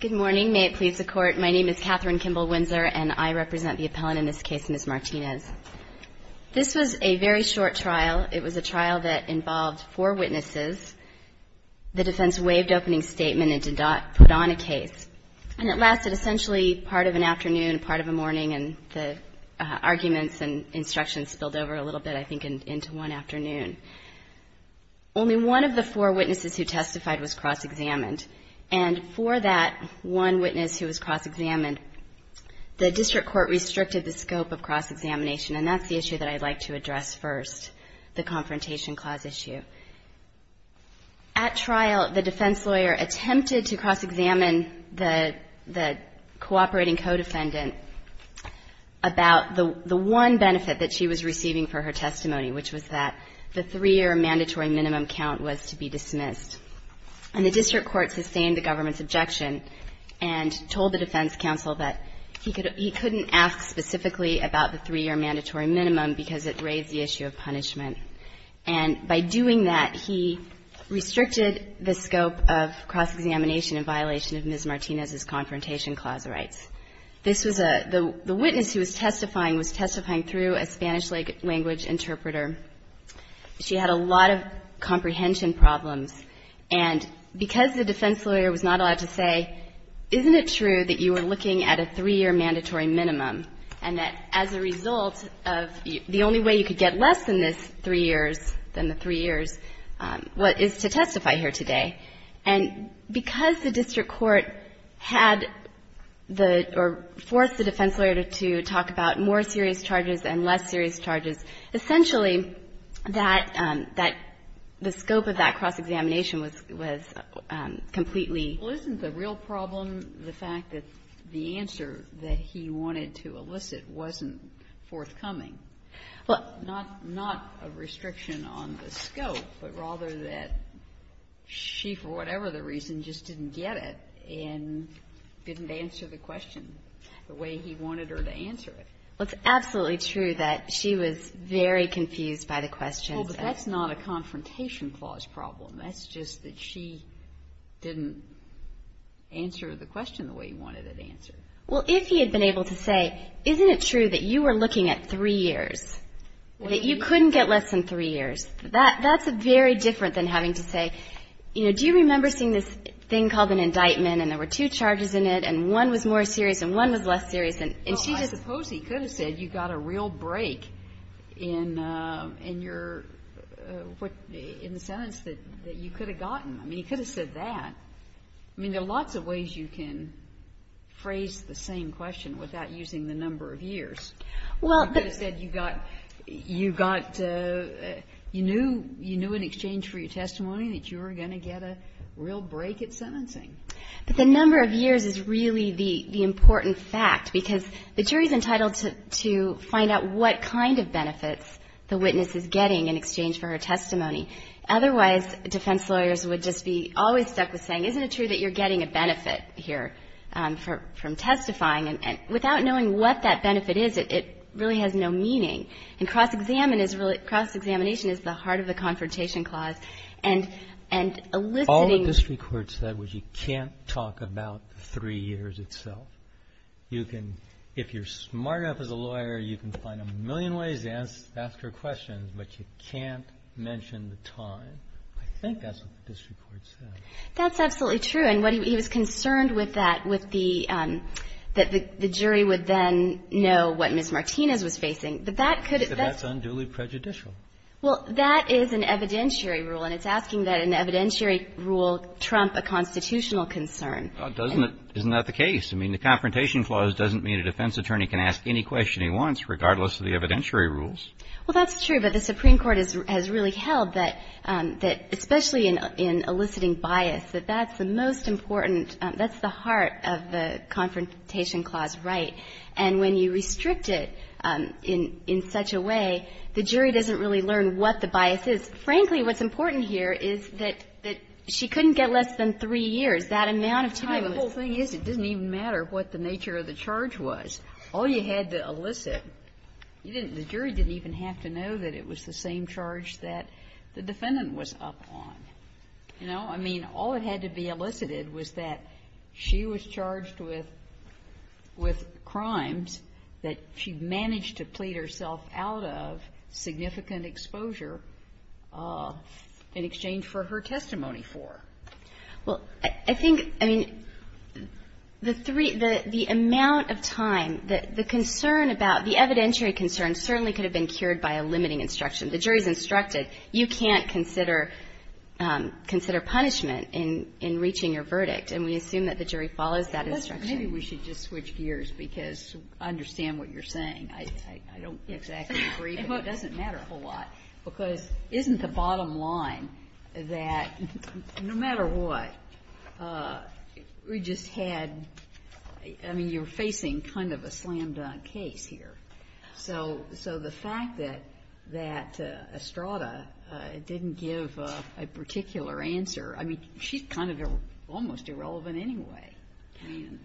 Good morning. May it please the Court, my name is Katherine Kimball-Windsor and I represent the appellant in this case, Ms. Martinez. This was a very short trial. It was a trial that involved four witnesses. The defense waived opening statement and did not put on a case. And it lasted essentially part of an afternoon, part of a morning, and the arguments and instructions spilled over a little bit, I think, into one afternoon. Only one of the four witnesses who testified was cross-examined. And for that one witness who was cross-examined, the district court restricted the scope of cross-examination. And that's the issue that I'd like to address first, the Confrontation Clause issue. At trial, the defense lawyer attempted to cross-examine the cooperating co-defendant about the one benefit that she was receiving for her testimony, which was that the three-year mandatory minimum count was to be dismissed. And the district court sustained the government's objection and told the defense counsel that he couldn't ask specifically about the three-year mandatory minimum because it raised the issue of punishment. And by doing that, he restricted the scope of cross-examination in violation of Ms. The witness who was testifying was testifying through a Spanish-language interpreter. She had a lot of comprehension problems. And because the defense lawyer was not allowed to say, isn't it true that you are looking at a three-year mandatory minimum and that as a result of the only way you could get less than this three years, than the three years, is to testify here today? And because the district court had the or forced the defense lawyer to talk about more serious charges and less serious charges, essentially that, that the scope of that cross-examination was, was completely Well, isn't the real problem the fact that the answer that he wanted to elicit wasn't forthcoming? Well, not, not a restriction on the scope, but rather that she, for whatever the reason, just didn't get it and didn't answer the question the way he wanted her to answer it. Well, it's absolutely true that she was very confused by the questions. Well, but that's not a confrontation clause problem. That's just that she didn't answer the question the way he wanted it answered. Well, if he had been able to say, isn't it true that you were looking at three years, that you couldn't get less than three years, that, that's very different than having to say, you know, do you remember seeing this thing called an indictment and there were two charges in it and one was more serious and one was less serious and she just Well, I suppose he could have said you got a real break in, in your, in the sentence that you could have gotten. I mean, he could have said that. I mean, there are lots of ways you can phrase the same question without using the number of years. Well He could have said you got, you got, you knew, you knew in exchange for your testimony that you were going to get a real break at sentencing. But the number of years is really the, the important fact, because the jury's entitled to, to find out what kind of benefits the witness is getting in exchange for her testimony. Otherwise, defense lawyers would just be always stuck with saying, isn't it true that you're getting a benefit here from, from testifying? And without knowing what that benefit is, it, it really has no meaning. And cross-examine is really, cross-examination is the heart of the confrontation clause. And, and eliciting All the district court said was you can't talk about the three years itself. You can, if you're smart enough as a lawyer, you can find a million ways to ask, ask her questions, but you can't mention the time. I think that's what the district court said. That's absolutely true. And what he was concerned with that, with the, that the jury would then know what Ms. Martinez was facing. But that could That's unduly prejudicial. Well, that is an evidentiary rule. And it's asking that an evidentiary rule trump a constitutional concern. Doesn't it, isn't that the case? I mean, the confrontation clause doesn't mean a defense attorney can ask any question he wants, regardless of the evidentiary rules. Well, that's true. But the Supreme Court has, has really held that, that especially in, in eliciting bias, that that's the most important, that's the heart of the Confrontation Clause right. And when you restrict it in, in such a way, the jury doesn't really learn what the bias is. Frankly, what's important here is that, that she couldn't get less than three years. That amount of time was Well, the whole thing is it doesn't even matter what the nature of the charge was. All you had to elicit, you didn't, the jury didn't even have to know that it was the same charge that the defendant was up on, you know. I mean, all that had to be elicited was that she was charged with, with crimes that she managed to plead herself out of, significant exposure, in exchange for her testimony for. Well, I think, I mean, the three, the, the amount of time, the, the concern about the evidentiary concern certainly could have been cured by a limiting instruction. The jury's instructed, you can't consider, consider punishment in, in reaching your verdict, and we assume that the jury follows that instruction. Maybe we should just switch gears, because I understand what you're saying. I, I, I don't exactly agree, but it doesn't matter a whole lot, because isn't the bottom line that no matter what, we just had, I mean, you're facing kind of a slam-dunk case here. So, so the fact that, that Estrada didn't give a, a particular answer, I mean, she's kind of a, almost irrelevant anyway. I mean.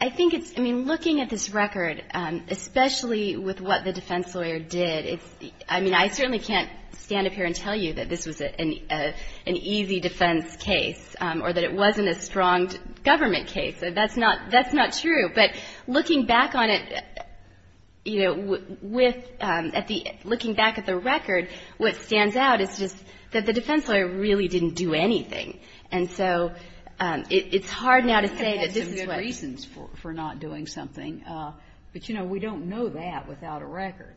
I think it's, I mean, looking at this record, especially with what the defense lawyer did, it's, I mean, I certainly can't stand up here and tell you that this was an, an easy defense case, or that it wasn't a strong government case. That's not, that's not true. But looking back on it, you know, with, at the, looking back at the record, what stands out is just that the defense lawyer really didn't do anything. And so it, it's hard now to say that this is what. But he had some good reasons for, for not doing something. But, you know, we don't know that without a record.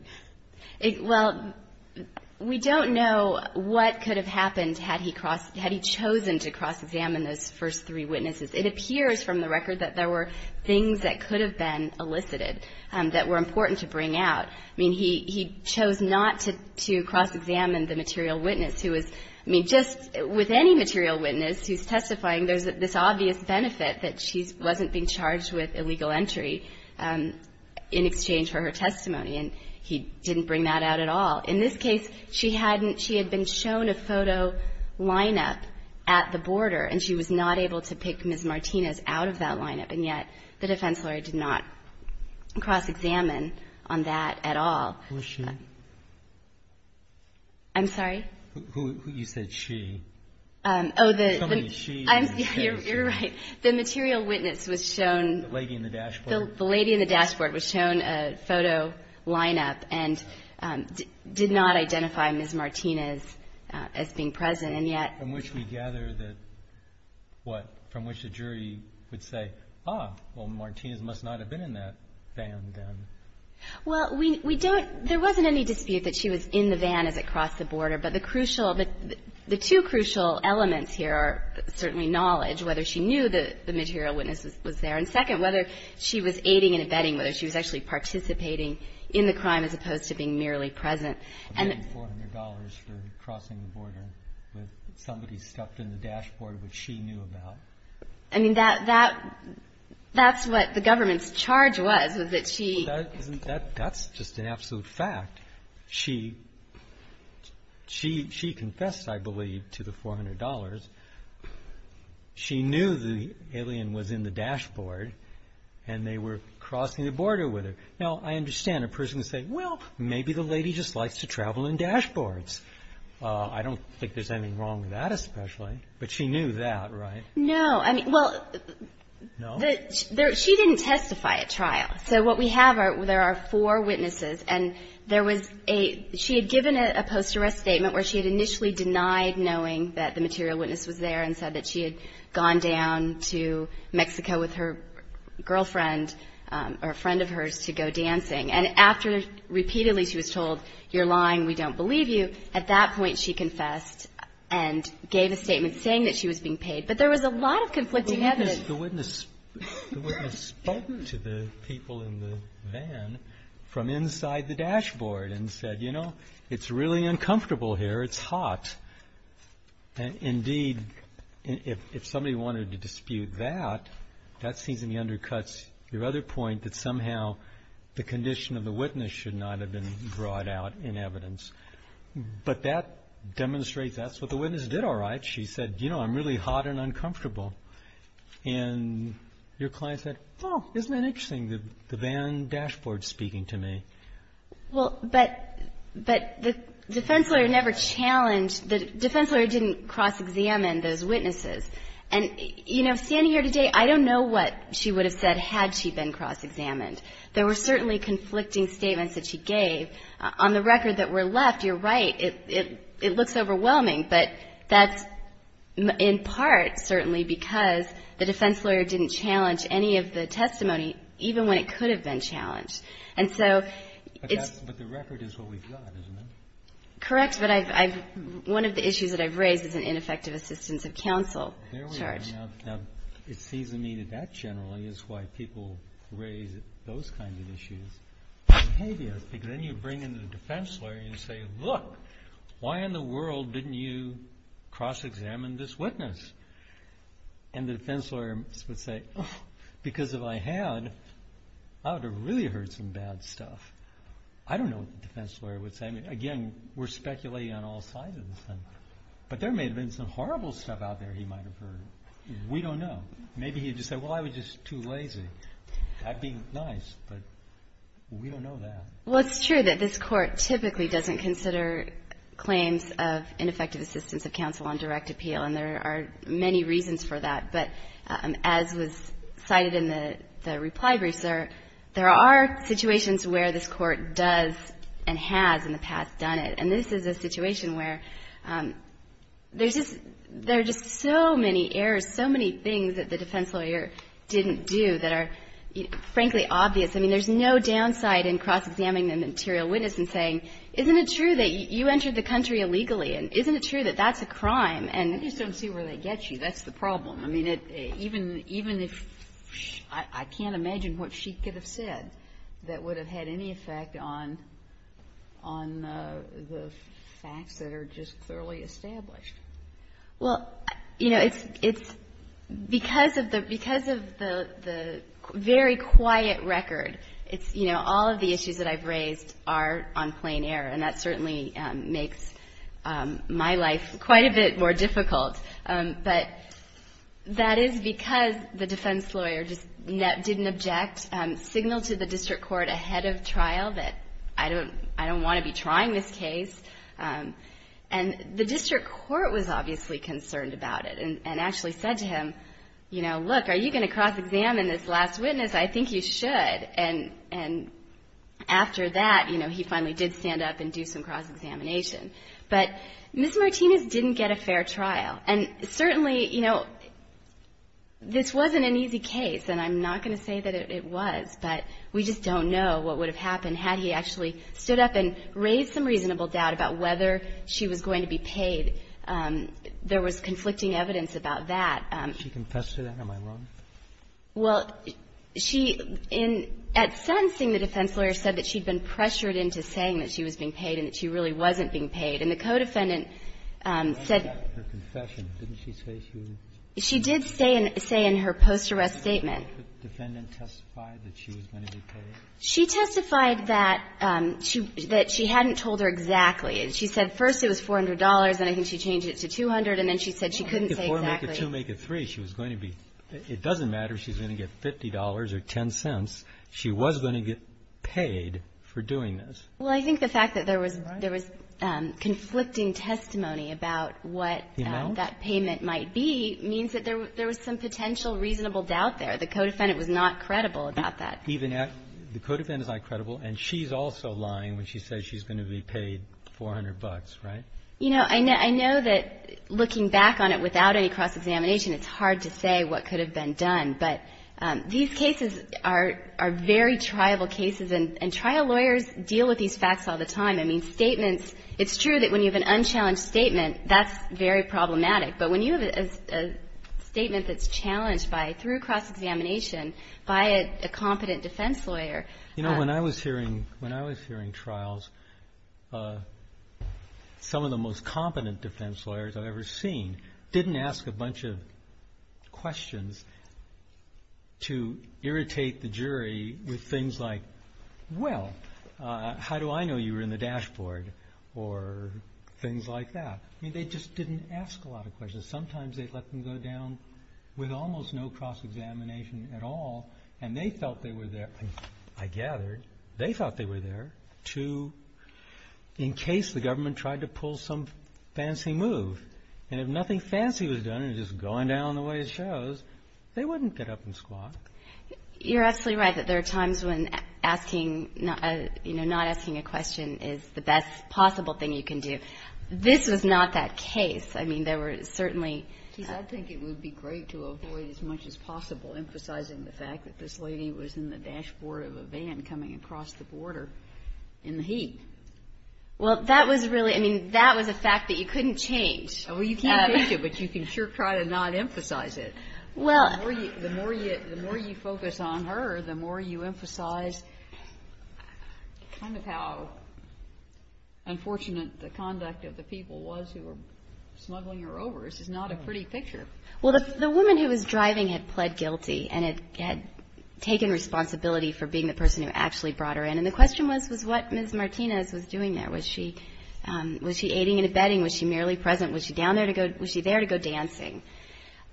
Well, we don't know what could have happened had he crossed, had he chosen to cross-examine those first three witnesses. It appears from the record that there were things that could have been elicited that were important to bring out. I mean, he, he chose not to, to cross-examine the material witness who was, I mean, just with any material witness who's testifying, there's this obvious benefit that she's, wasn't being charged with illegal entry in exchange for her testimony. And he didn't bring that out at all. In this case, she hadn't, she had been shown a photo lineup at the border, and she was not able to pick Ms. Martinez out of that lineup. And yet the defense lawyer did not cross-examine on that at all. Who is she? I'm sorry? Who, who you said she. Oh, the. Somebody she in this case. You're right. The material witness was shown. The lady in the dashboard. The lady in the dashboard was shown a photo lineup and did not identify Ms. Martinez as being present. And yet. From which we gather that, what, from which the jury would say, ah, well, Martinez must not have been in that van then. Well, we, we don't, there wasn't any dispute that she was in the van as it crossed the border. But the crucial, the two crucial elements here are certainly knowledge, whether she knew the material witness was there. And second, whether she was aiding and abetting, whether she was actually participating in the crime as opposed to being merely present. I'm getting $400 for crossing the border with somebody stuffed in the dashboard which she knew about. I mean, that, that, that's what the government's charge was, was that she. That, that's just an absolute fact. She, she, she confessed, I believe, to the $400. She knew the alien was in the dashboard and they were crossing the border with her. Now, I understand. A person would say, well, maybe the lady just likes to travel in dashboards. I don't think there's anything wrong with that, especially. But she knew that, right? No. I mean, well. No? She didn't testify at trial. So what we have are, there are four witnesses. And there was a, she had given a post-arrest statement where she had initially denied knowing that the material witness was there and said that she had gone down to Mexico with her girlfriend or a friend of hers to go dancing. And after repeatedly she was told, you're lying, we don't believe you. At that point she confessed and gave a statement saying that she was being paid. But there was a lot of conflicting evidence. The witness, the witness spoke to the people in the van from inside the dashboard and said, you know, it's really uncomfortable here, it's hot. Indeed, if somebody wanted to dispute that, that seems to me undercuts your other point that somehow the condition of the witness should not have been brought out in evidence. But that demonstrates that's what the witness did all right. She said, you know, I'm really hot and uncomfortable. And your client said, well, isn't that interesting, the van dashboard speaking to me. Well, but the defense lawyer never challenged, the defense lawyer didn't cross-examine those witnesses. And, you know, standing here today, I don't know what she would have said had she been cross-examined. There were certainly conflicting statements that she gave. On the record that were left, you're right, it looks overwhelming. But that's in part certainly because the defense lawyer didn't challenge any of the testimony, even when it could have been challenged. And so it's. But the record is what we've got, isn't it? Correct. But one of the issues that I've raised is an ineffective assistance of counsel charge. There we are. Now, it seems to me that that generally is why people raise those kinds of issues, because then you bring in the defense lawyer and you say, look, why in the world didn't you cross-examine this witness? And the defense lawyer would say, oh, because if I had, I would have really heard some bad stuff. I don't know what the defense lawyer would say. I mean, again, we're speculating on all sides of this thing. But there may have been some horrible stuff out there he might have heard. We don't know. Maybe he would have just said, well, I was just too lazy. That would be nice, but we don't know that. Well, it's true that this Court typically doesn't consider claims of ineffective assistance of counsel on direct appeal. And there are many reasons for that. But as was cited in the reply brief, sir, there are situations where this Court does and has in the past done it. And this is a situation where there's just so many errors, so many things that the defense lawyer didn't do that are, frankly, obvious. I mean, there's no downside in cross-examining the material witness and saying, isn't it true that you entered the country illegally? And isn't it true that that's a crime? And you just don't see where that gets you. That's the problem. I mean, even if shh, I can't imagine what she could have said that would have had any effect on the facts that are just thoroughly established. Well, you know, it's because of the very quiet record, it's, you know, all of the issues that I've raised are on plain air. And that certainly makes my life quite a bit more difficult. But that is because the defense lawyer just didn't object, signaled to the district court ahead of trial that I don't want to be trying this case. And the district court was obviously concerned about it and actually said to him, you know, look, are you going to cross-examine this last witness? I think you should. And after that, you know, he finally did stand up and do some cross-examination. But Ms. Martinez didn't get a fair trial. And certainly, you know, this wasn't an easy case, and I'm not going to say that it was, but we just don't know what would have happened had he actually stood up and raised some reasonable doubt about whether she was going to be paid. There was conflicting evidence about that. She confessed to that? Am I wrong? Well, she at sentencing, the defense lawyer said that she had been pressured into saying that she was being paid and that she really wasn't being paid. And the co-defendant said her confession. Didn't she say she was? She did say in her post-arrest statement. Did the defendant testify that she was going to be paid? She testified that she hadn't told her exactly. She said first it was $400, and I think she changed it to $200. And then she said she couldn't say exactly. Or make it two, make it three. It doesn't matter if she's going to get $50 or $0.10. She was going to get paid for doing this. Well, I think the fact that there was conflicting testimony about what that payment might be means that there was some potential reasonable doubt there. The co-defendant was not credible about that. The co-defendant is not credible, and she's also lying when she says she's going to be paid $400, right? You know, I know that looking back on it without any cross-examination, it's hard to say what could have been done. But these cases are very triable cases, and trial lawyers deal with these facts all the time. I mean, statements, it's true that when you have an unchallenged statement, that's very problematic. But when you have a statement that's challenged through cross-examination by a competent defense lawyer. You know, when I was hearing trials, some of the most competent defense lawyers I've ever seen didn't ask a bunch of questions to irritate the jury with things like, well, how do I know you were in the dashboard, or things like that. I mean, they just didn't ask a lot of questions. Sometimes they'd let them go down with almost no cross-examination at all, and they felt they were there, I gathered, they thought they were there to, in case the government tried to pull some fancy move. And if nothing fancy was done and it was just going down the way it shows, they wouldn't get up and squat. You're absolutely right that there are times when asking, you know, not asking a question is the best possible thing you can do. This was not that case. I mean, there were certainly. I think it would be great to avoid as much as possible emphasizing the fact that this lady was in the dashboard of a van coming across the border in the heat. Well, that was really, I mean, that was a fact that you couldn't change. Well, you can't change it, but you can sure try to not emphasize it. Well. The more you focus on her, the more you emphasize kind of how unfortunate the conduct of the people was who were smuggling her overs is not a pretty picture. Well, the woman who was driving had pled guilty, and had taken responsibility for being the person who actually brought her in. And the question was, was what Ms. Martinez was doing there? Was she aiding and abetting? Was she merely present? Was she down there to go, was she there to go dancing?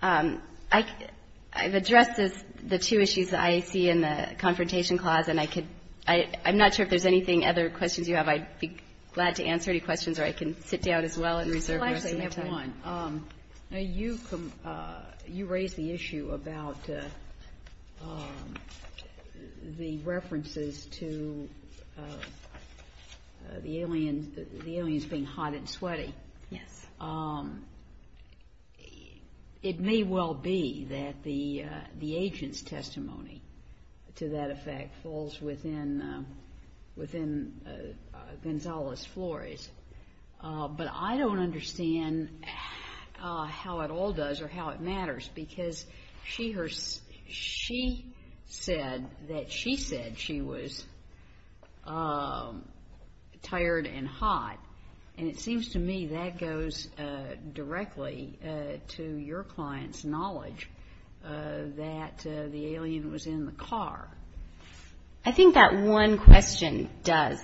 I've addressed the two issues that I see in the confrontation clause, and I could, I'm not sure if there's anything, other questions you have. I'd be glad to answer any questions, or I can sit down as well and reserve the rest of my time. Actually, I have one. You raised the issue about the references to the aliens being hot and sweaty. Yes. It may well be that the agent's testimony to that effect falls within Gonzalez Flores, but I don't understand how it all does or how it matters, because she said that she said she was tired and hot, and it seems to me that goes directly to your client's knowledge that the alien was in the car. I think that one question does.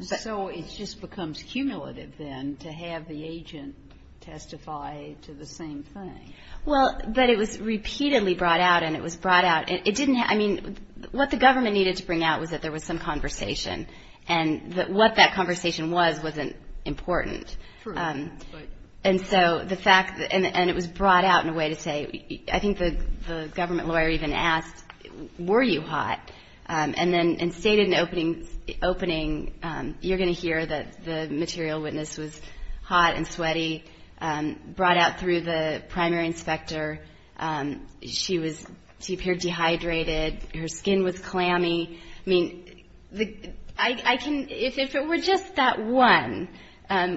So it just becomes cumulative then to have the agent testify to the same thing. Well, but it was repeatedly brought out, and it was brought out. It didn't, I mean, what the government needed to bring out was that there was some conversation, and what that conversation was wasn't important. True. And so the fact, and it was brought out in a way to say, I think the government lawyer even asked, were you hot? And then in stated in the opening, you're going to hear that the material witness was hot and sweaty, brought out through the primary inspector. She was, she appeared dehydrated. Her skin was clammy. I mean, I can, if it were just that one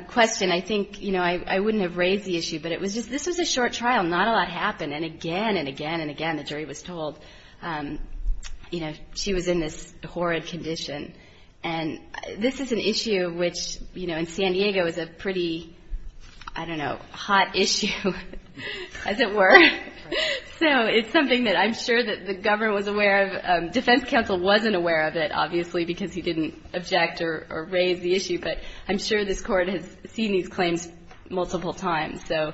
question, I think, you know, I wouldn't have raised the issue, but it was just, this was a short trial. Not a lot happened, and again and again and again the jury was told, you know, she was in this horrid condition. And this is an issue which, you know, in San Diego is a pretty, I don't know, hot issue, as it were. So it's something that I'm sure that the government was aware of. Defense counsel wasn't aware of it, obviously, because he didn't object or raise the issue, but I'm sure this Court has seen these claims multiple times. So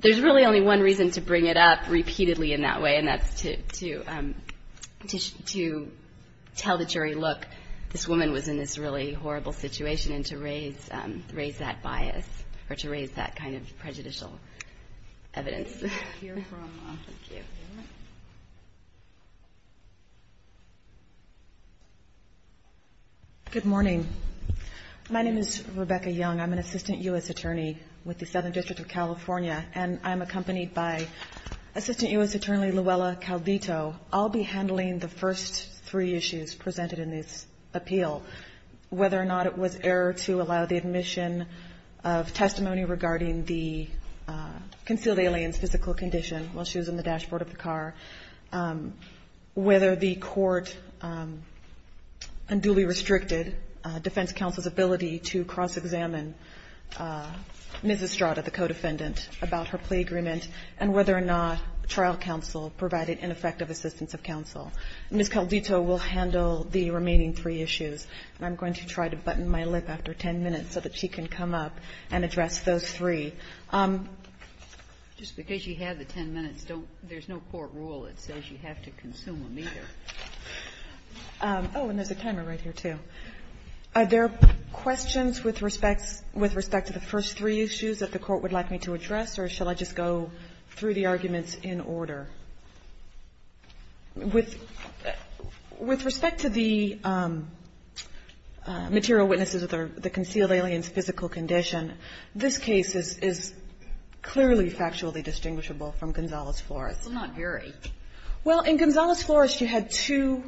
there's really only one reason to bring it up repeatedly in that way, and that's to tell the jury, look, this woman was in this really horrible situation, and to raise that bias or to raise that kind of prejudicial evidence. Thank you. Good morning. My name is Rebecca Young. I'm an assistant U.S. attorney with the Southern District of California, and I'm accompanied by Assistant U.S. Attorney Luella Caldito. I'll be handling the first three issues presented in this appeal, whether or not it was error to allow the admission of testimony regarding the concealed alien's physical condition while she was in the dashboard of the car, whether the Court unduly restricted defense counsel's ability to cross-examine Ms. Estrada, the co-defendant, about her plea agreement, and whether or not trial counsel provided ineffective assistance of counsel. Ms. Caldito will handle the remaining three issues, and I'm going to try to button my lip after 10 minutes so that she can come up and address those three. Just because you have the 10 minutes, there's no court rule that says you have to consume them either. Oh, and there's a timer right here, too. Are there questions with respect to the first three issues that the Court would like me to address, or shall I just go through the arguments in order? With respect to the material witnesses of the concealed alien's physical condition, this case is clearly factually distinguishable from Gonzales-Flores. It's not very. Well, in Gonzales-Flores, you had two,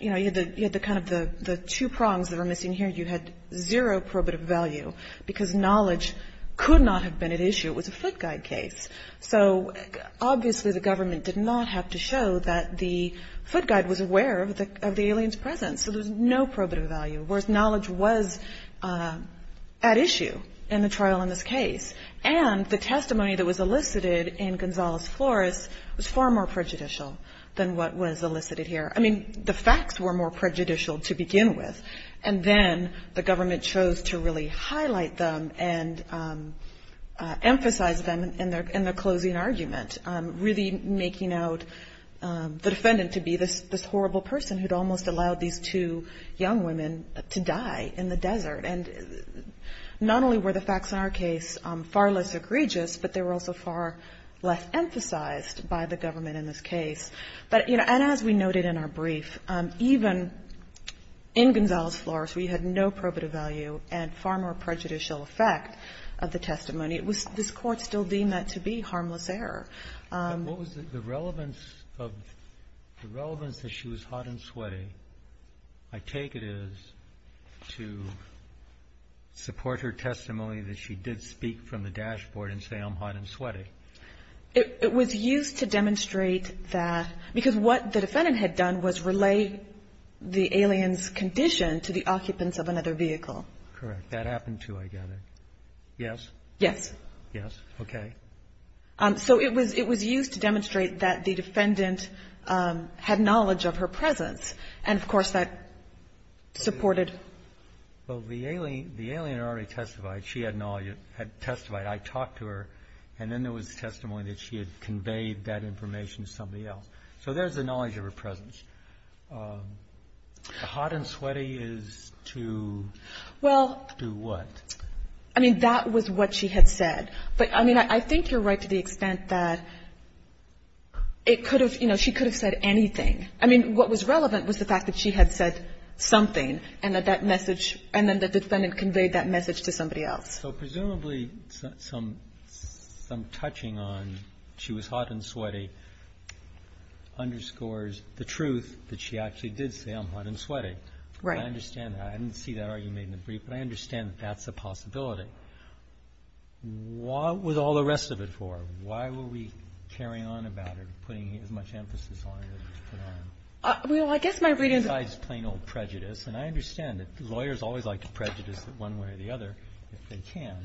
you know, you had the kind of the two prongs that were missing here. You had zero probative value, because knowledge could not have been at issue. It was a foot guide case. So obviously the government did not have to show that the foot guide was aware of the alien's presence. So there was no probative value, whereas knowledge was at issue in the trial in this case. And the testimony that was elicited in Gonzales-Flores was far more prejudicial than what was elicited here. I mean, the facts were more prejudicial to begin with, and then the government chose to really highlight them and emphasize them in the closing argument, really making out the defendant to be this horrible person who had almost allowed these two young women to die in the desert. And not only were the facts in our case far less egregious, but they were also far less emphasized by the government in this case. But, you know, and as we noted in our brief, even in Gonzales-Flores, we had no probative value and far more prejudicial effect of the testimony. It was this Court still deemed that to be harmless error. And what was the relevance of the relevance that she was hot and sweaty, I take it, is to support her testimony that she did speak from the dashboard and say I'm hot and sweaty. It was used to demonstrate that, because what the defendant had done was relay the alien's condition to the occupants of another vehicle. Correct. That happened, too, I gather. Yes? Yes. Yes. Okay. So it was used to demonstrate that the defendant had knowledge of her presence, and, of course, that supported. Well, the alien already testified. She had testified. I talked to her, and then there was testimony that she had conveyed that information to somebody else. So there's the knowledge of her presence. Hot and sweaty is to do what? Well, I mean, that was what she had said. But, I mean, I think you're right to the extent that it could have, you know, she could have said anything. I mean, what was relevant was the fact that she had said something and that that message, and then the defendant conveyed that message to somebody else. So presumably, some touching on she was hot and sweaty underscores the truth that she actually did say, I'm hot and sweaty. Right. I understand that. I didn't see that argument in the brief, but I understand that that's a possibility. What was all the rest of it for? Why were we carrying on about it, putting as much emphasis on it as we could have? Well, I guess my reading is that. Besides plain old prejudice, and I understand that lawyers always like to prejudice one way or the other if they can.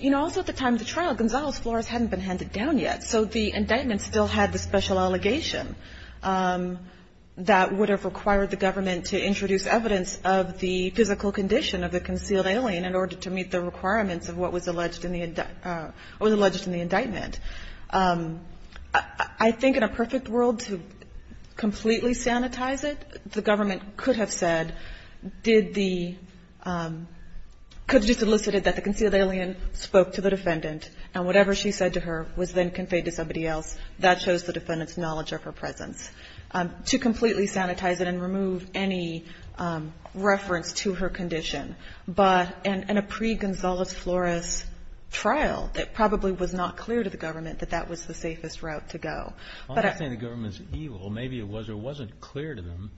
You know, also at the time of the trial, Gonzalo's floors hadn't been handed down yet. So the indictment still had the special allegation that would have required the government to introduce evidence of the physical condition of the concealed alien in order to meet the requirements of what was alleged in the indictment. I think in a perfect world to completely sanitize it, the government could have said, did the, could have just elicited that the concealed alien spoke to the defendant and whatever she said to her was then conveyed to somebody else. That shows the defendant's knowledge of her presence. To completely sanitize it and remove any reference to her condition. But in a pre-Gonzalo's floors trial, it probably was not clear to the government that that was the safest route to go. I'm not saying the government's evil. Maybe it was or wasn't clear to them.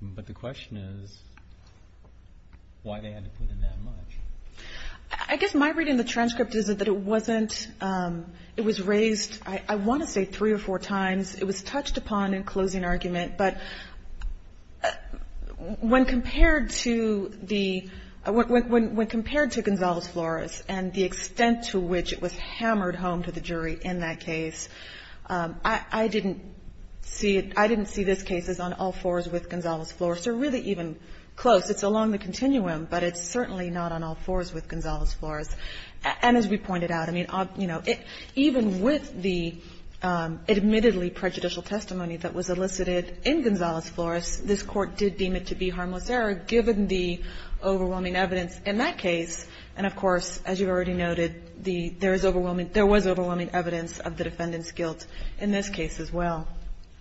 But the question is why they had to put in that much. I guess my reading of the transcript is that it wasn't, it was raised, I want to say three or four times. It was touched upon in closing argument. But when compared to the, when compared to Gonzalo's floors and the extent to which it was hammered home to the jury in that case, I didn't see it, I didn't see this case as on all fours with Gonzalo's floors. They're really even close. It's along the continuum. But it's certainly not on all fours with Gonzalo's floors. And as we pointed out, I mean, you know, even with the admittedly prejudicial testimony that was elicited in Gonzalo's floors, this Court did deem it to be harmless error, given the overwhelming evidence in that case. And, of course, as you've already noted, there was overwhelming evidence of the defendant's guilt in this case as well.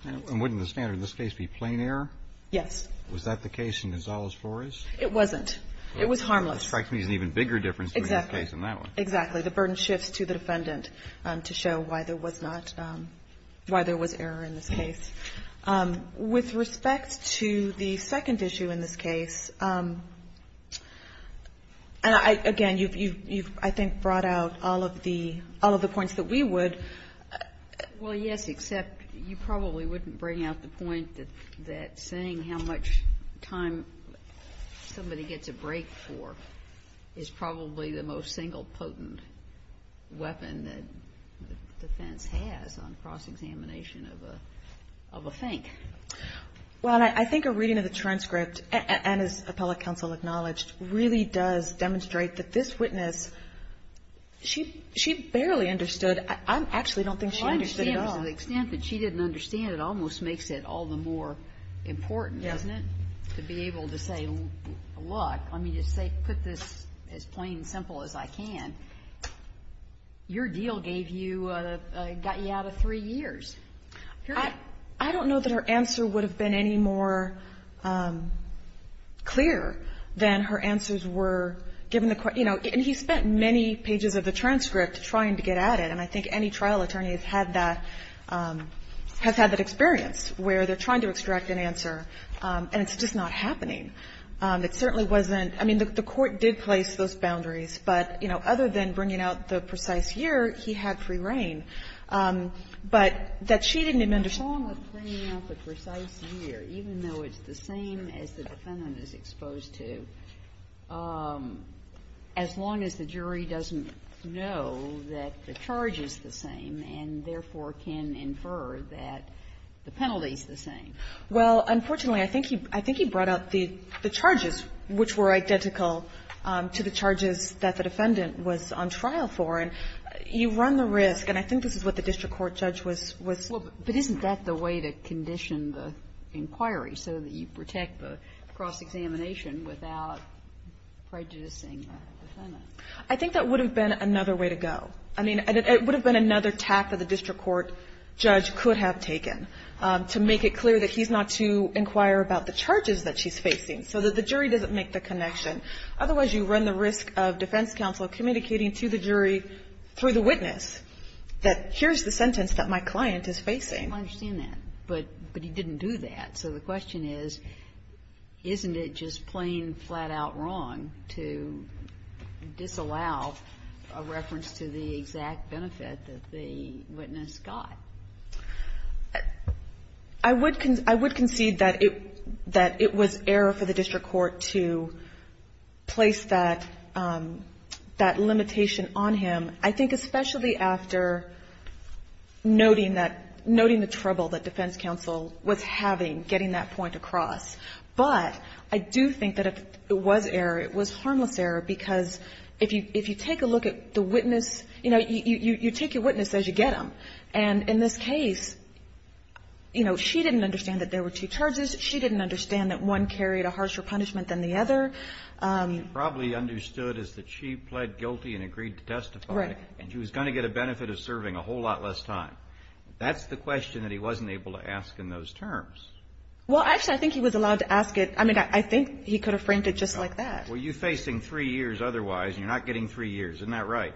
And wouldn't the standard in this case be plain error? Yes. Was that the case in Gonzalo's floors? It wasn't. It was harmless. It strikes me as an even bigger difference between this case and that one. Exactly. The burden shifts to the defendant to show why there was not, why there was error in this case. With respect to the second issue in this case, again, you've, I think, brought out all of the points that we would. Well, yes, except you probably wouldn't bring out the point that saying how much time somebody gets a break for is probably the most single potent weapon that the defense has on cross-examination of a thing. Well, I think a reading of the transcript, and as appellate counsel acknowledged, really does demonstrate that this witness, she barely understood. I actually don't think she understood at all. Well, I understand to the extent that she didn't understand, it almost makes it all the more important, doesn't it, to be able to say, look, let me just say, put this as plain and simple as I can. Your deal gave you, got you out of three years. I don't know that her answer would have been any more clear than her answers were given the court, you know, and he spent many pages of the transcript trying to get at it, and I think any trial attorney has had that, has had that experience where they're trying to extract an answer and it's just not happening. It certainly wasn't, I mean, the court did place those boundaries, but, you know, other than bringing out the precise year, he had free reign. But that she didn't even understand. Sotomayor, even though it's the same as the defendant is exposed to, as long as the jury doesn't know that the charge is the same and therefore can infer that the penalty is the same. Well, unfortunately, I think he brought up the charges, which were identical to the charges that the defendant was on trial for. And you run the risk, and I think this is what the district court judge was, was. But isn't that the way to condition the inquiry, so that you protect the cross-examination without prejudicing the defendant? I think that would have been another way to go. I mean, it would have been another tack that the district court judge could have taken to make it clear that he's not to inquire about the charges that she's facing, so that the jury doesn't make the connection. Otherwise, you run the risk of defense counsel communicating to the jury through the witness that here's the sentence that my client is facing. I understand that. But he didn't do that. So the question is, isn't it just plain, flat-out wrong to disallow a reference to the exact benefit that the witness got? I would concede that it was error for the district court to place that limitation on him, I think especially after noting that, noting the trouble that defense counsel was having getting that point across. But I do think that it was error. It was harmless error, because if you take a look at the witness, you know, you take your witness as you get them. And in this case, you know, she didn't understand that there were two charges. She didn't understand that one carried a harsher punishment than the other. What she probably understood is that she pled guilty and agreed to testify. Right. And she was going to get a benefit of serving a whole lot less time. That's the question that he wasn't able to ask in those terms. Well, actually, I think he was allowed to ask it. I mean, I think he could have framed it just like that. Well, you're facing three years otherwise, and you're not getting three years. Isn't that right?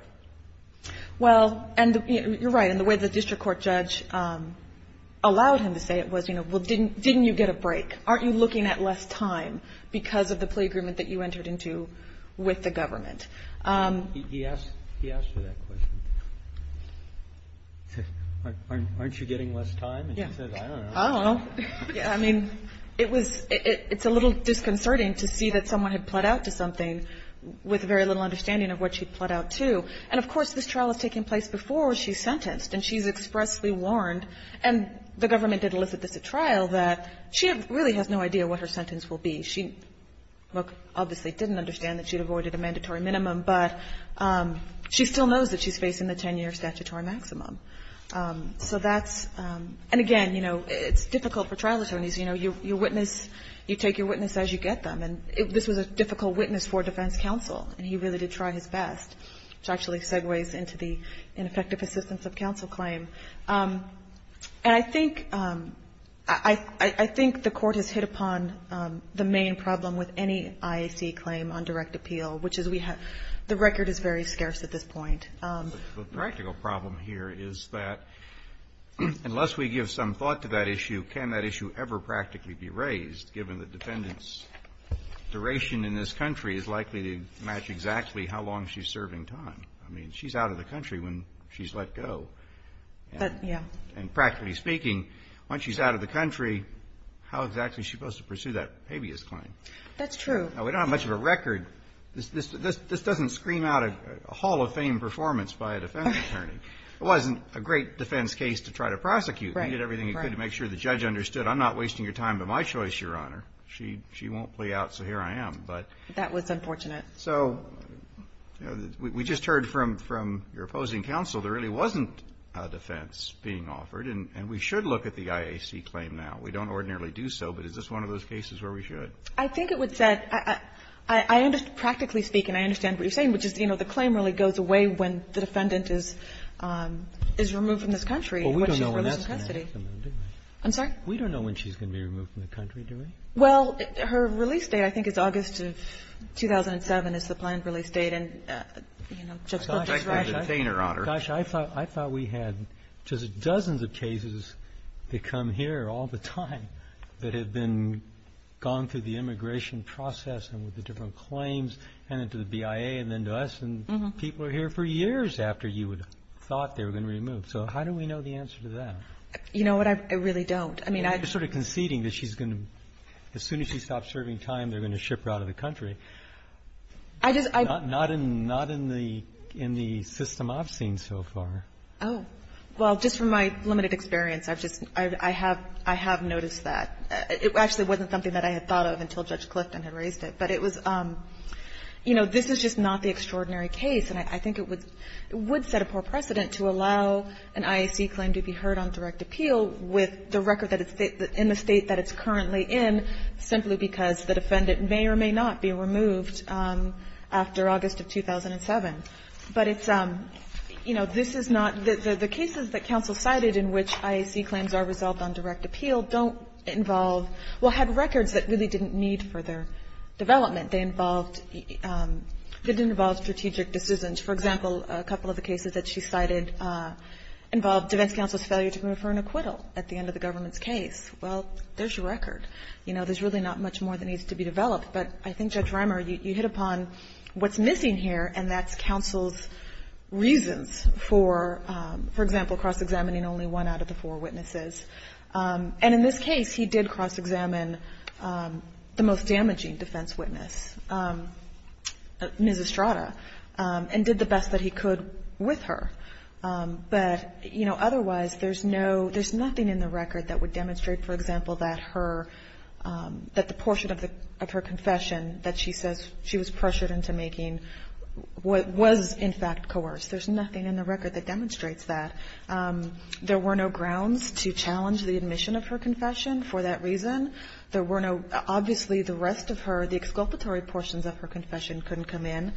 Well, and you're right. And the way the district court judge allowed him to say it was, you know, well, didn't you get a break? Aren't you looking at less time because of the plea agreement that you entered into with the government? He asked her that question. Aren't you getting less time? And she said, I don't know. I don't know. I mean, it's a little disconcerting to see that someone had pled out to something with very little understanding of what she'd pled out to. And, of course, this trial is taking place before she's sentenced, and she's expressly warned, and the government did elicit this at trial, that she really has no idea what her sentence will be. She obviously didn't understand that she'd avoided a mandatory minimum, but she still knows that she's facing the 10-year statutory maximum. So that's – and, again, you know, it's difficult for trial attorneys. You know, you witness – you take your witness as you get them. And this was a difficult witness for defense counsel, and he really did try his best, which actually segues into the ineffective assistance of counsel claim. And I think – I think the Court has hit upon the main problem with any IAC claim on direct appeal, which is we have – the record is very scarce at this point. The practical problem here is that unless we give some thought to that issue, can that duration in this country is likely to match exactly how long she's serving time? I mean, she's out of the country when she's let go. But, yeah. And practically speaking, once she's out of the country, how exactly is she supposed to pursue that habeas claim? That's true. Now, we don't have much of a record. This doesn't scream out a Hall of Fame performance by a defense attorney. It wasn't a great defense case to try to prosecute. Right. You did everything you could to make sure the judge understood, I'm not wasting your time, but my choice, Your Honor. She won't play out, so here I am. But that was unfortunate. So we just heard from your opposing counsel there really wasn't a defense being offered, and we should look at the IAC claim now. We don't ordinarily do so, but is this one of those cases where we should? I think it would set – I understand – practically speaking, I understand what you're saying, which is, you know, the claim really goes away when the defendant is removed from this country and when she's released from custody. Well, we don't know when that's going to happen, do we? I'm sorry? We don't know when she's going to be removed from the country, do we? Well, her release date, I think, is August of 2007 is the planned release date. And, you know, Justice Breyer – I could have detained her, Your Honor. Gosh, I thought we had just dozens of cases that come here all the time that have been gone through the immigration process and with the different claims, and then to the BIA and then to us, and people are here for years after you would have thought they were going to be removed. So how do we know the answer to that? You know what? I really don't. I mean, I don't know. You're sort of conceding that she's going to – as soon as she stops serving time, they're going to ship her out of the country. I just – Not in the system I've seen so far. Oh. Well, just from my limited experience, I've just – I have noticed that. It actually wasn't something that I had thought of until Judge Clifton had raised it. But it was – you know, this is just not the extraordinary case, and I think it would set a poor precedent to allow an IAC claim to be heard on direct appeal with the record that it's in the State that it's currently in simply because the defendant may or may not be removed after August of 2007. But it's – you know, this is not – the cases that counsel cited in which IAC claims are resolved on direct appeal don't involve – well, had records that really didn't need further development. They involved – they didn't involve strategic decisions. For example, a couple of the cases that she cited involved defense counsel's failure to confer an acquittal at the end of the government's case. Well, there's your record. You know, there's really not much more that needs to be developed. But I think, Judge Reimer, you hit upon what's missing here, and that's counsel's reasons for, for example, cross-examining only one out of the four witnesses. And in this case, he did cross-examine the most damaging defense witness, Ms. Estrada, and did the best that he could with her. But, you know, otherwise, there's no – there's nothing in the record that would demonstrate, for example, that her – that the portion of her confession that she says she was pressured into making was, in fact, coerced. There's nothing in the record that demonstrates that. There were no grounds to challenge the admission of her confession for that reason. There were no – obviously, the rest of her, the exculpatory portions of her confession couldn't come in.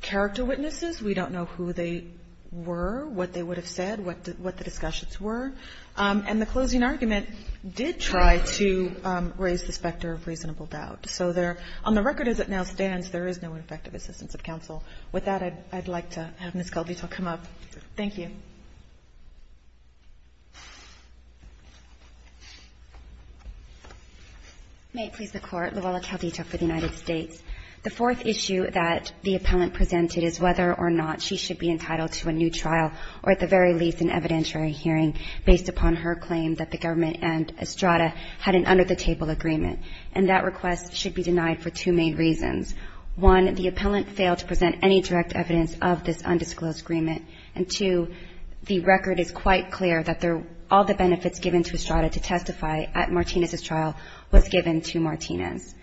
Character witnesses, we don't know who they were, what they would have said, what the discussions were. And the closing argument did try to raise the specter of reasonable doubt. So there – on the record, as it now stands, there is no effective assistance of counsel. With that, I'd like to have Ms. Caldito come up. Thank you. May it please the Court. Luella Caldito for the United States. The fourth issue that the appellant presented is whether or not she should be entitled to a new trial or at the very least an evidentiary hearing based upon her claim that the government and Estrada had an under-the-table agreement. And that request should be denied for two main reasons. One, the appellant failed to present any direct evidence of this undisclosed agreement, and two, the record is quite clear that all the benefits given to Estrada to testify at Martinez's trial was given to Martinez.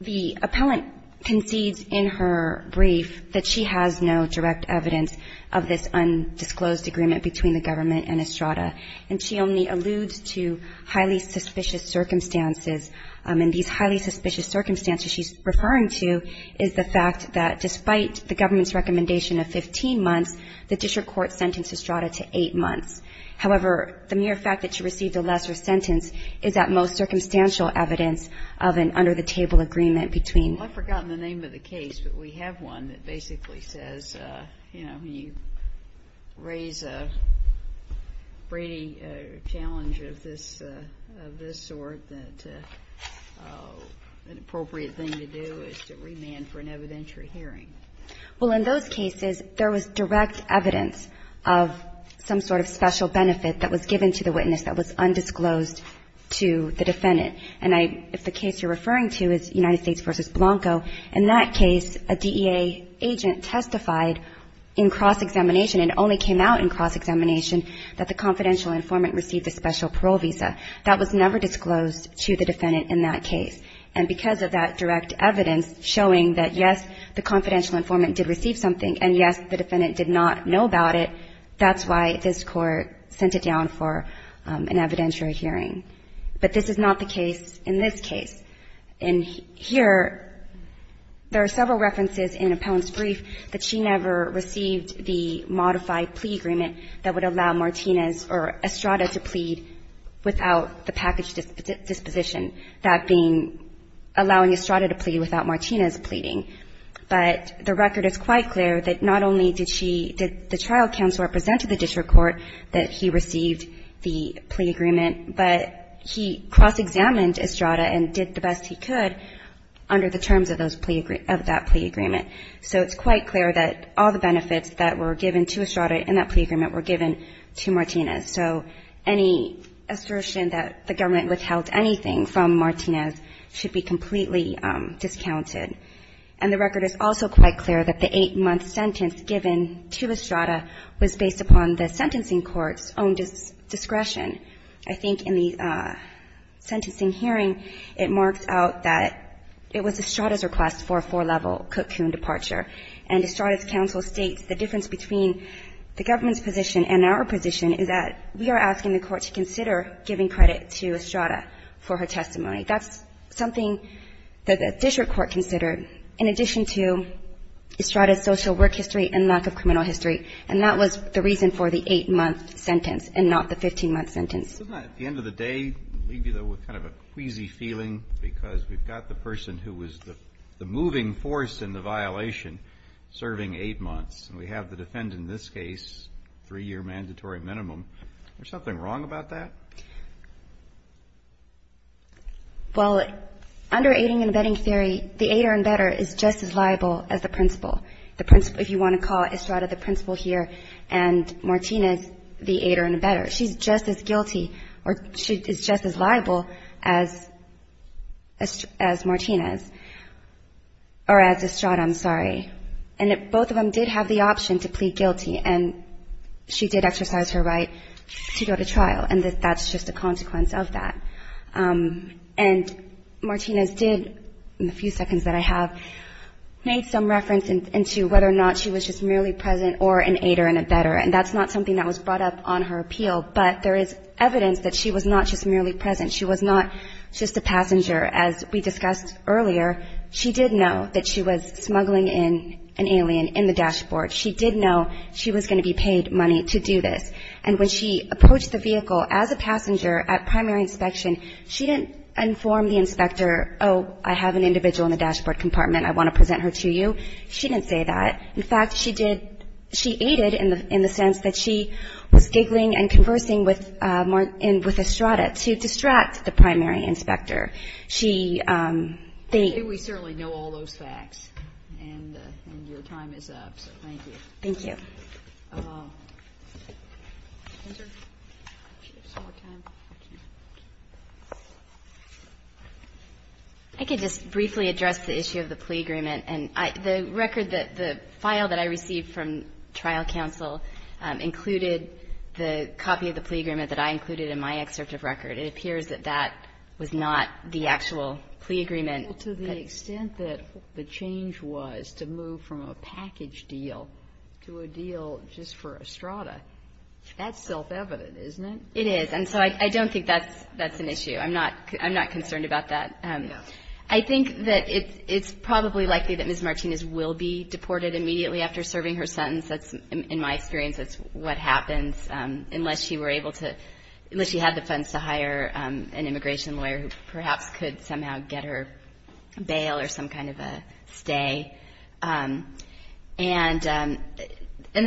The appellant concedes in her brief that she has no direct evidence of this undisclosed agreement between the government and Estrada, and she only alludes to highly suspicious circumstances. And these highly suspicious circumstances she's referring to is the fact that despite the government's recommendation of 15 months, the district court sentenced Estrada to 8 months. However, the mere fact that she received a lesser sentence is at most circumstantial evidence of an under-the-table agreement between. Well, I've forgotten the name of the case, but we have one that basically says, you know, when you raise a Brady challenge of this sort, that an appropriate thing to do is to remand for an evidentiary hearing. Well, in those cases, there was direct evidence of some sort of special benefit that was given to the witness that was undisclosed to the defendant. And I – if the case you're referring to is United States v. Blanco, in that case, a DEA agent testified in cross-examination and only came out in cross-examination that the confidential informant received a special parole visa. That was never disclosed to the defendant in that case. And because of that direct evidence showing that, yes, the confidential informant did receive something, and, yes, the defendant did not know about it, that's why this Court sent it down for an evidentiary hearing. But this is not the case in this case. And here, there are several references in Appellant's brief that she never received the modified plea agreement that would allow Martinez or Estrada to plead without the package disposition, that being allowing Estrada to plead without Martinez pleading. But the record is quite clear that not only did she – did the trial counsel represent to the district court that he received the plea agreement, but he cross-examined Estrada and did the best he could under the terms of those plea – of that plea agreement. So it's quite clear that all the benefits that were given to Estrada in that plea agreement were given to Martinez. So any assertion that the government withheld anything from Martinez should be completely discounted. And the record is also quite clear that the 8-month sentence given to Estrada was based upon the sentencing court's own discretion. I think in the sentencing hearing, it marks out that it was Estrada's request for a four-level cocoon departure. And our position is that we are asking the Court to consider giving credit to Estrada for her testimony. That's something that the district court considered in addition to Estrada's social work history and lack of criminal history. And that was the reason for the 8-month sentence and not the 15-month sentence. Isn't that, at the end of the day, leave you, though, with kind of a queasy feeling because we've got the person who was the moving force in the violation serving eight months, and we have the defendant in this case, three-year mandatory minimum. Is there something wrong about that? Well, under aiding and abetting theory, the aider and abetter is just as liable as the principal. If you want to call Estrada the principal here and Martinez the aider and abetter, she's just as guilty or she's just as liable as Martinez or as Estrada, I'm sorry. And both of them did have the option to plead guilty, and she did exercise her right to go to trial. And that's just a consequence of that. And Martinez did, in the few seconds that I have, made some reference into whether or not she was just merely present or an aider and abetter. And that's not something that was brought up on her appeal. But there is evidence that she was not just merely present. She was not just a passenger. As we discussed earlier, she did know that she was smuggling in an alien in the dashboard. She did know she was going to be paid money to do this. And when she approached the vehicle as a passenger at primary inspection, she didn't inform the inspector, oh, I have an individual in the dashboard compartment, I want to present her to you. She didn't say that. In fact, she did, she aided in the sense that she was giggling and conversing with Estrada to distract the primary inspector. She they We certainly know all those facts. And your time is up. So thank you. Thank you. I could just briefly address the issue of the plea agreement. And the record that the file that I received from trial counsel included the copy of the plea agreement that I included in my excerpt of record. It appears that that was not the actual plea agreement. Well, to the extent that the change was to move from a package deal to a deal just for Estrada, that's self-evident, isn't it? It is. And so I don't think that's an issue. I'm not concerned about that. I think that it's probably likely that Ms. Martinez will be deported immediately after serving her sentence. That's, in my experience, that's what happens unless she were able to, unless she had the funds to hire an immigration lawyer who perhaps could somehow get her bail or some kind of a stay. And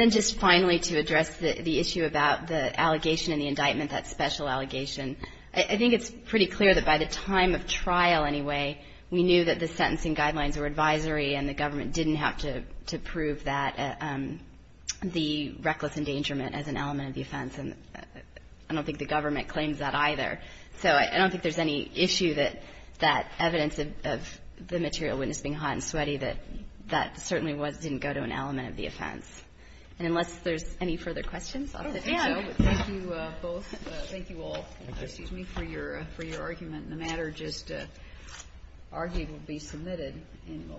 then just finally to address the issue about the allegation and the indictment, that special allegation. I think it's pretty clear that by the time of trial, anyway, we knew that the sentencing guidelines were advisory and the government didn't have to prove that, the reckless endangerment as an element of the offense. And I don't think the government claims that either. So I don't think there's any issue that that evidence of the material witness being hot and sweaty, that that certainly didn't go to an element of the offense. And unless there's any further questions, I'll let you go. Thank you both. Thank you all. Excuse me for your argument. The matter just argued will be submitted in the law.